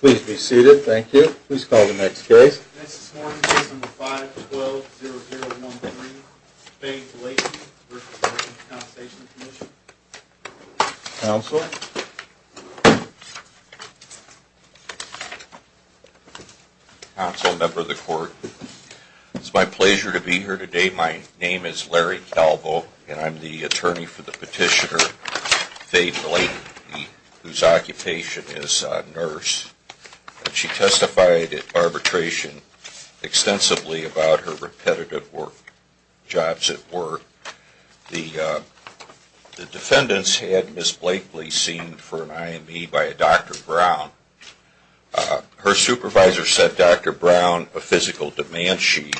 Please be seated. Thank you. Please call the next case. Next this morning, case number 5-12-0013, Faye Blayton v. Workers' Compensation Comm'n. Counsel? Counsel, member of the court, it's my pleasure to be here today. My name is Larry Calvo, and I'm the attorney for the petitioner, Faye Blayton, whose occupation is a nurse. She testified at arbitration extensively about her repetitive jobs at work. The defendants had Ms. Blakely seen for an IME by a Dr. Brown. Her supervisor sent Dr. Brown a physical demand sheet,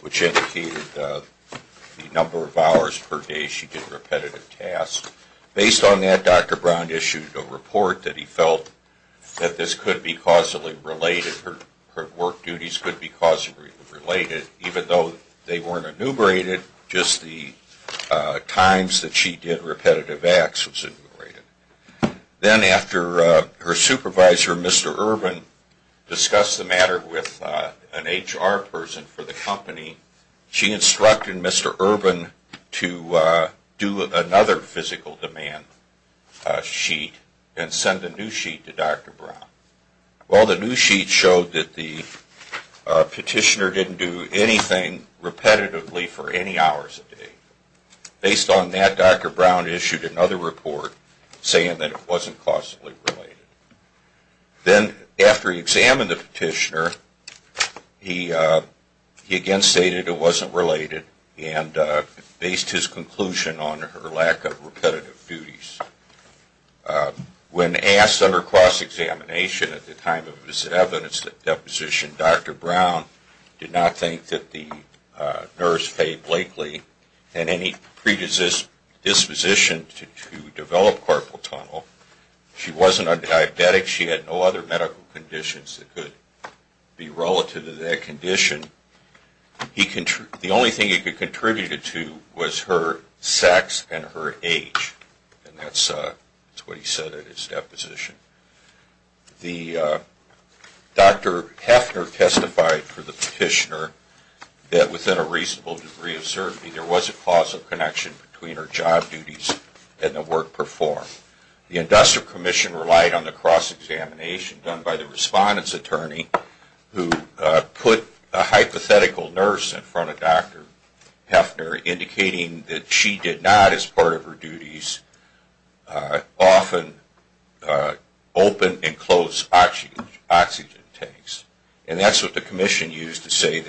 which indicated the number of hours per day she did repetitive tasks. Based on that, Dr. Brown issued a report that he felt that this could be causally related. Her work duties could be causally related, even though they weren't enumerated, just the times that she did repetitive acts was enumerated. Then after her supervisor, Mr. Urban, discussed the matter with an HR person for the company, she instructed Mr. Urban to do another physical demand sheet and send a new sheet to Dr. Brown. Well, the new sheet showed that the petitioner didn't do anything repetitively for any hours a day. Based on that, Dr. Brown issued another report saying that it wasn't causally related. Then after he examined the petitioner, he again stated it wasn't related and based his conclusion on her lack of repetitive duties. When asked under cross-examination at the time of his evidence deposition, Dr. Brown did not think that the nurse, Faye Blakely, had any predisposition to develop carpal tunnel. She wasn't a diabetic. She had no other medical conditions that could be relative to that condition. The only thing he could contribute it to was her sex and her age. And that's what he said at his deposition. The industrial commission relied on the cross-examination done by the respondent's attorney who put a hypothetical nurse in front of Dr. Heffner indicating that she did not as part of her duties, often open and close oxygen tanks. And that's what the commission used to say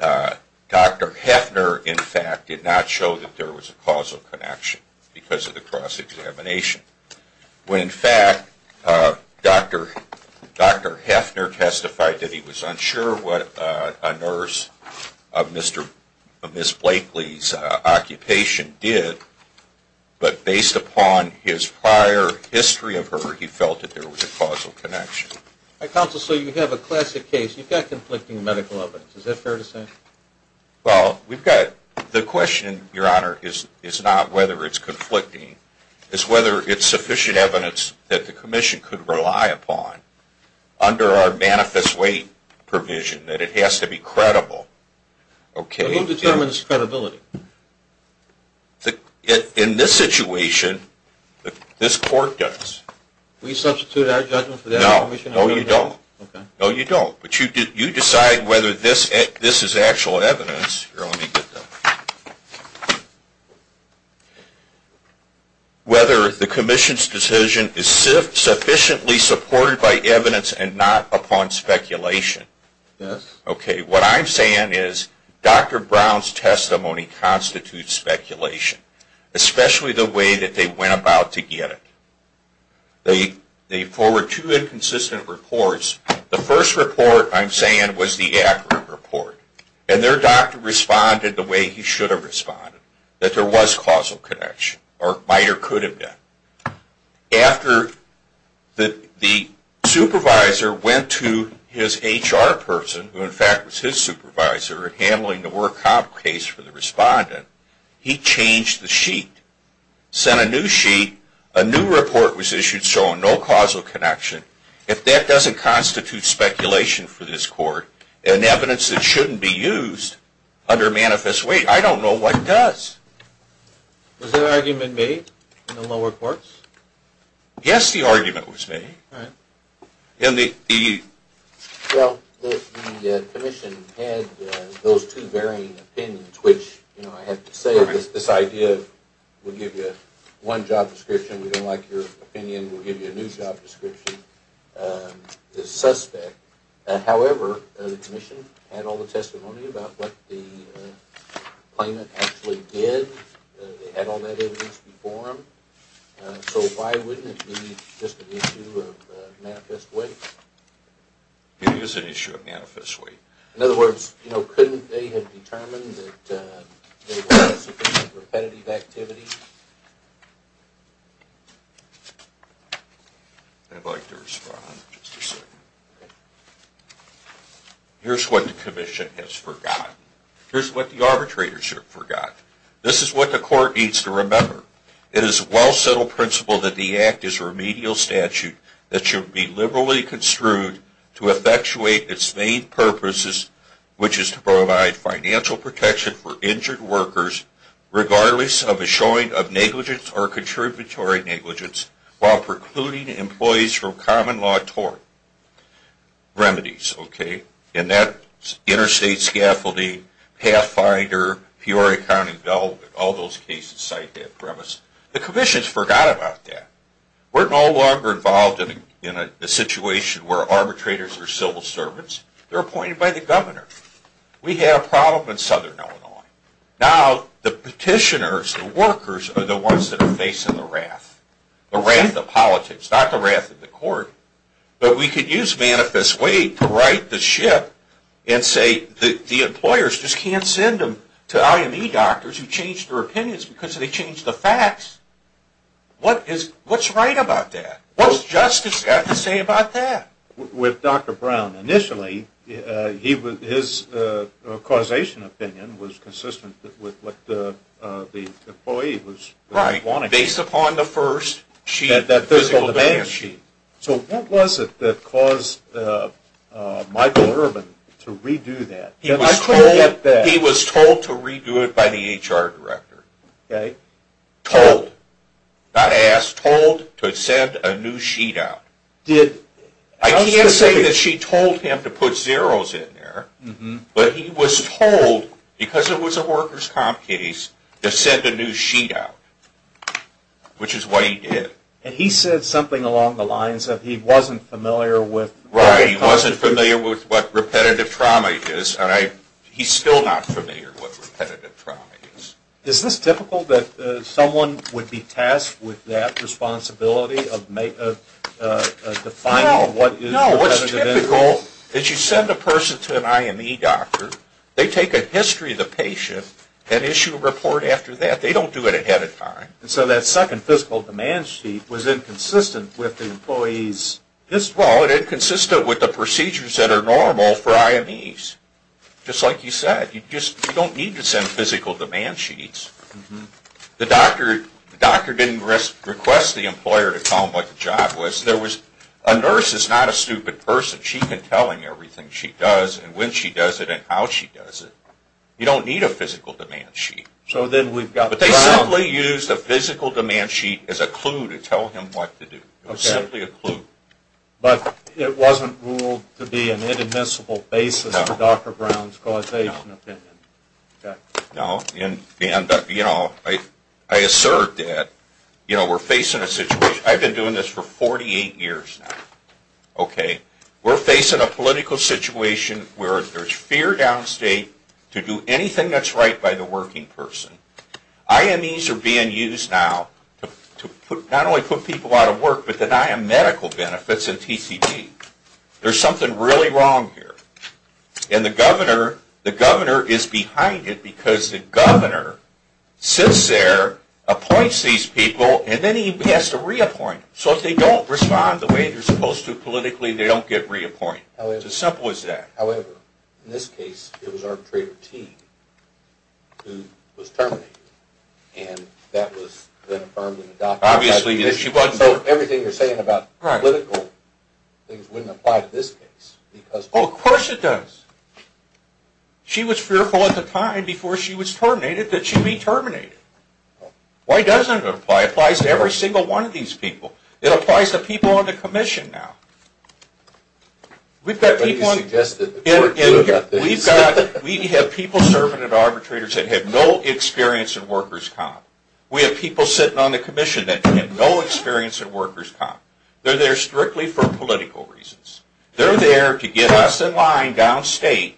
that Dr. Heffner in fact did not show that there was a causal connection because of the cross-examination. When in fact, Dr. Heffner testified that he was unsure what a nurse of Ms. Blakely's occupation did, but based upon his prior history of her, he felt that there was a causal connection. Counsel, so you have a classic case. You've got conflicting medical evidence. Is that fair to say? Well, the question, Your Honor, is not whether it's conflicting. It's whether it's sufficient evidence that the commission could rely upon under our manifest weight provision that it has to be credible. Who determines credibility? In this situation, this court does. We substitute our judgment for that of the commission? No, you don't. But you decide whether this is actual evidence, whether the commission's decision is sufficiently supported by evidence and not upon speculation. What I'm saying is Dr. Brown's testimony constitutes speculation, especially the way that they went about to get it. They forward two inconsistent reports. The first report, I'm saying, was the accurate report. And their doctor responded the way he should have responded, that there was causal connection or might or could have been. After the supervisor went to his HR person, who in fact was his supervisor, in handling the work-hop case for the respondent, he changed the sheet. Sent a new sheet. A new report was issued showing no causal connection. If that doesn't constitute speculation for this court, and evidence that shouldn't be used under manifest weight, I don't know what does. Was that argument made in the lower courts? Yes, the argument was made. Well, the commission had those two varying opinions, which I have to say this idea will give you one job description. We don't like your opinion. We'll give you a new job description. The suspect, however, the commission had all the testimony about what the claimant actually did. They had all that evidence before him. So why wouldn't it be just an issue of manifest weight? It is an issue of manifest weight. In other words, couldn't they have determined that there was some kind of repetitive activity? I'd like to respond in just a second. Here's what the commission has forgotten. Here's what the arbitrators have forgotten. This is what the court needs to remember. It is a well-settled principle that the Act is a remedial statute that should be liberally construed to effectuate its main purposes, which is to provide financial protection for injured workers, regardless of a showing of negligence or contributory negligence, while precluding employees from common law tort remedies. And that's interstate scaffolding, pathfinder, Peoria County development, all those cases cite that premise. The commission has forgotten about that. We're no longer involved in a situation where arbitrators are civil servants. They're appointed by the governor. We have a problem in southern Illinois. Now the petitioners, the workers, are the ones that are facing the wrath, the wrath of politics, not the wrath of the court. But we could use manifest weight to right the ship and say the employers just can't send them to IME doctors who changed their opinions because they changed the facts. What's right about that? What's justice got to say about that? With Dr. Brown, initially, his causation opinion was consistent with what the employee was wanting. Right. Based upon the first sheet, that physical demand sheet. So what was it that caused Michael Urban to redo that? He was told to redo it by the HR director. Okay. Told, not asked, told to send a new sheet out. I can't say that she told him to put zeros in there. But he was told, because it was a workers' comp case, to send a new sheet out, which is what he did. And he said something along the lines that he wasn't familiar with. Right. He wasn't familiar with what repetitive trauma is. He's still not familiar with what repetitive trauma is. Is this typical that someone would be tasked with that responsibility of defining what is repetitive injury? No, what's typical is you send a person to an IME doctor, they take a history of the patient, and issue a report after that. They don't do it ahead of time. And so that second physical demand sheet was inconsistent with the employee's history? Well, it inconsistent with the procedures that are normal for IMEs. Just like you said, you don't need to send physical demand sheets. The doctor didn't request the employer to tell him what the job was. A nurse is not a stupid person. She can tell him everything she does and when she does it and how she does it. You don't need a physical demand sheet. But they simply used a physical demand sheet as a clue to tell him what to do. It was simply a clue. But it wasn't ruled to be an inadmissible basis for Dr. Brown's causation opinion? No. I assert that we're facing a situation. I've been doing this for 48 years now. We're facing a political situation where there's fear downstate to do anything that's right by the working person. IMEs are being used now to not only put people out of work, but deny them medical benefits and TCB. There's something really wrong here. And the governor is behind it because the governor sits there, appoints these people, and then he has to reappoint them. So if they don't respond the way they're supposed to politically, they don't get reappointed. It's as simple as that. However, in this case, it was arbitrator T who was terminated. And that was then affirmed in the document. So everything you're saying about political things wouldn't apply to this case. Oh, of course it does. She was fearful at the time before she was terminated that she'd be terminated. Why doesn't it apply? It applies to every single one of these people. It applies to people on the commission now. We have people serving at arbitrators that have no experience in workers' comp. We have people sitting on the commission that have no experience in workers' comp. They're there strictly for political reasons. They're there to get us in line downstate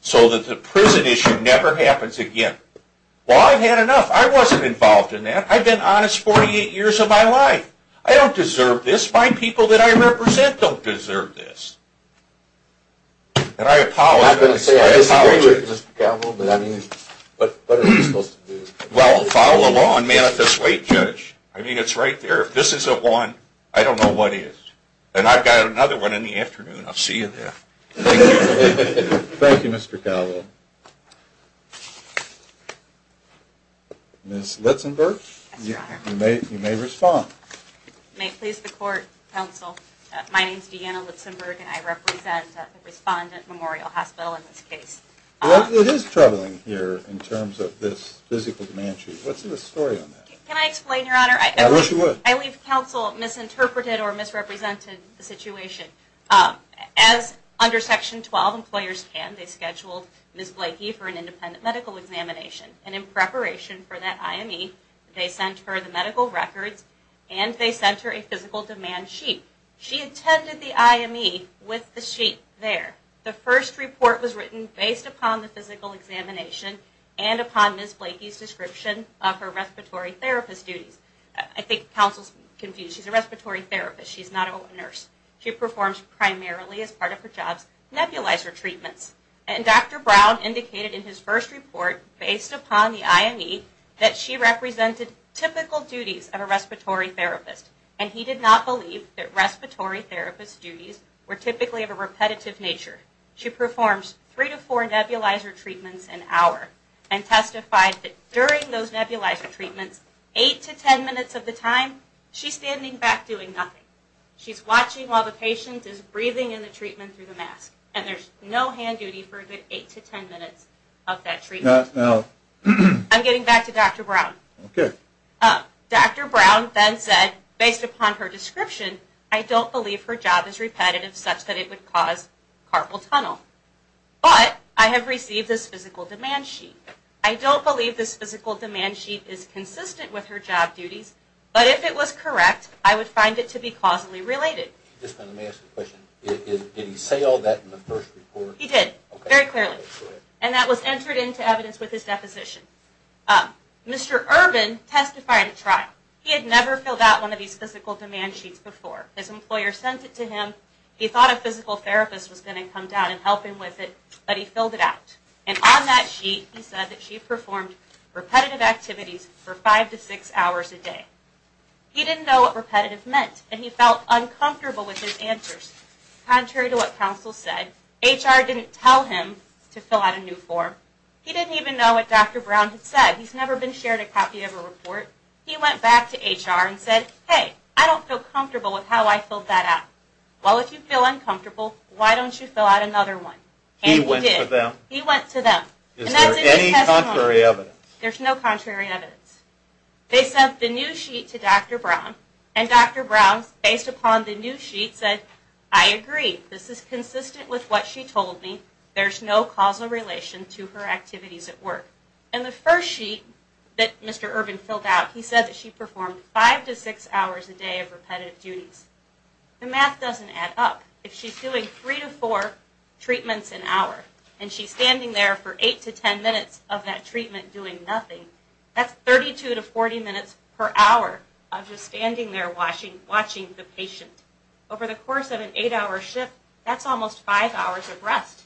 so that the prison issue never happens again. Well, I've had enough. I wasn't involved in that. I've been honest 48 years of my life. I don't deserve this. My people that I represent don't deserve this. And I apologize. I disagree with you, Mr. Calvo, but what are we supposed to do? Well, follow the law and manifest weight, Judge. I mean, it's right there. If this isn't one, I don't know what is. And I've got another one in the afternoon. I'll see you there. Thank you. Thank you, Mr. Calvo. Ms. Litzenberg? Yes, Your Honor. You may respond. May it please the Court, Counsel, my name is Deanna Litzenberg, and I represent the Respondent Memorial Hospital in this case. What is troubling here in terms of this physical demand sheet? What's the story on that? Can I explain, Your Honor? I wish you would. I believe Counsel misinterpreted or misrepresented the situation. As under Section 12, employers can. They scheduled Ms. Blakey for an independent medical examination. And in preparation for that IME, they sent her the medical records and they sent her a physical demand sheet. She attended the IME with the sheet there. The first report was written based upon the physical examination and upon Ms. Blakey's description of her respiratory therapist duties. I think Counsel's confused. She's a respiratory therapist. She's not a nurse. She performs primarily, as part of her job, nebulizer treatments. And Dr. Brown indicated in his first report, based upon the IME, that she represented typical duties of a respiratory therapist. And he did not believe that respiratory therapist duties were typically of a repetitive nature. She performs three to four nebulizer treatments an hour and testified that during those nebulizer treatments, eight to ten minutes of the time, she's standing back doing nothing. She's watching while the patient is breathing in the treatment through the mask. And there's no hand duty for a good eight to ten minutes of that treatment. I'm getting back to Dr. Brown. Dr. Brown then said, based upon her description, I don't believe her job is repetitive such that it would cause carpal tunnel. But I have received this physical demand sheet. I don't believe this physical demand sheet is consistent with her job duties. But if it was correct, I would find it to be causally related. Did he say all that in the first report? He did, very clearly. And that was entered into evidence with his deposition. Mr. Urban testified at trial. He had never filled out one of these physical demand sheets before. His employer sent it to him. He thought a physical therapist was going to come down and help him with it, but he filled it out. And on that sheet he said that she performed repetitive activities for five to six hours a day. He didn't know what repetitive meant, and he felt uncomfortable with his answers. Contrary to what counsel said, HR didn't tell him to fill out a new form. He didn't even know what Dr. Brown had said. He's never been shared a copy of a report. He went back to HR and said, hey, I don't feel comfortable with how I filled that out. Well, if you feel uncomfortable, why don't you fill out another one? And he did. He went to them. Is there any contrary evidence? There's no contrary evidence. They sent the new sheet to Dr. Brown, and Dr. Brown, based upon the new sheet, said, I agree. This is consistent with what she told me. There's no causal relation to her activities at work. In the first sheet that Mr. Urban filled out, he said that she performed five to six hours a day of repetitive duties. The math doesn't add up. If she's doing three to four treatments an hour, and she's standing there for eight to ten minutes of that treatment doing nothing, that's 32 to 40 minutes per hour of just standing there watching the patient. Over the course of an eight-hour shift, that's almost five hours of rest.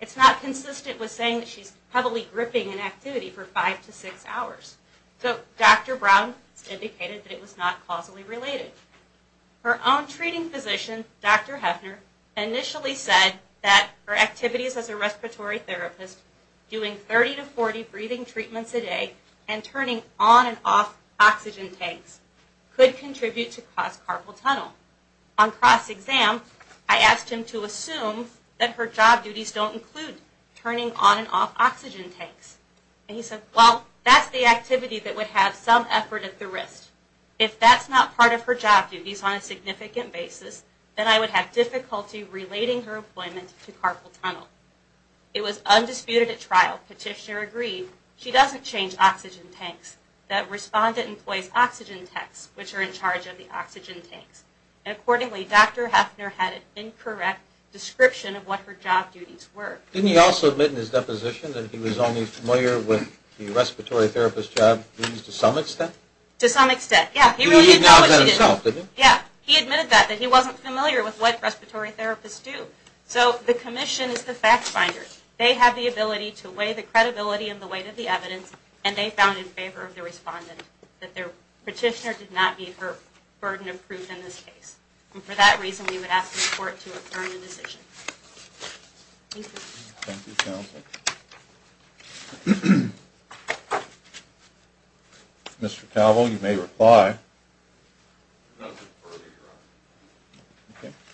It's not consistent with saying that she's heavily gripping an activity for five to six hours. So Dr. Brown indicated that it was not causally related. Her own treating physician, Dr. Hefner, initially said that her activities as a respiratory therapist, doing 30 to 40 breathing treatments a day, and turning on and off oxygen tanks, could contribute to cross-carpal tunnel. On cross-exam, I asked him to assume that her job duties don't include turning on and off oxygen tanks. And he said, well, that's the activity that would have some effort at the wrist. If that's not part of her job duties on a significant basis, then I would have difficulty relating her appointment to carpal tunnel. It was undisputed at trial. Petitioner agreed. She doesn't change oxygen tanks. That respondent employs oxygen tanks, which are in charge of the oxygen tanks. And accordingly, Dr. Hefner had an incorrect description of what her job duties were. Didn't he also admit in his deposition that he was only familiar with the respiratory therapist job duties to some extent? To some extent, yeah. He admitted that himself, didn't he? Yeah. He admitted that, that he wasn't familiar with what respiratory therapists do. So the commission is the fact finder. They have the ability to weigh the credibility and the weight of the evidence, and they found in favor of the respondent that their petitioner did not meet her burden of proof in this case. And for that reason, we would ask the court to adjourn the decision. Thank you. Thank you, counsel. Thank you. Mr. Cavill, you may reply.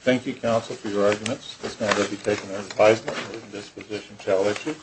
Thank you, counsel, for your arguments. This matter will be taken under advisement. This position shall issue.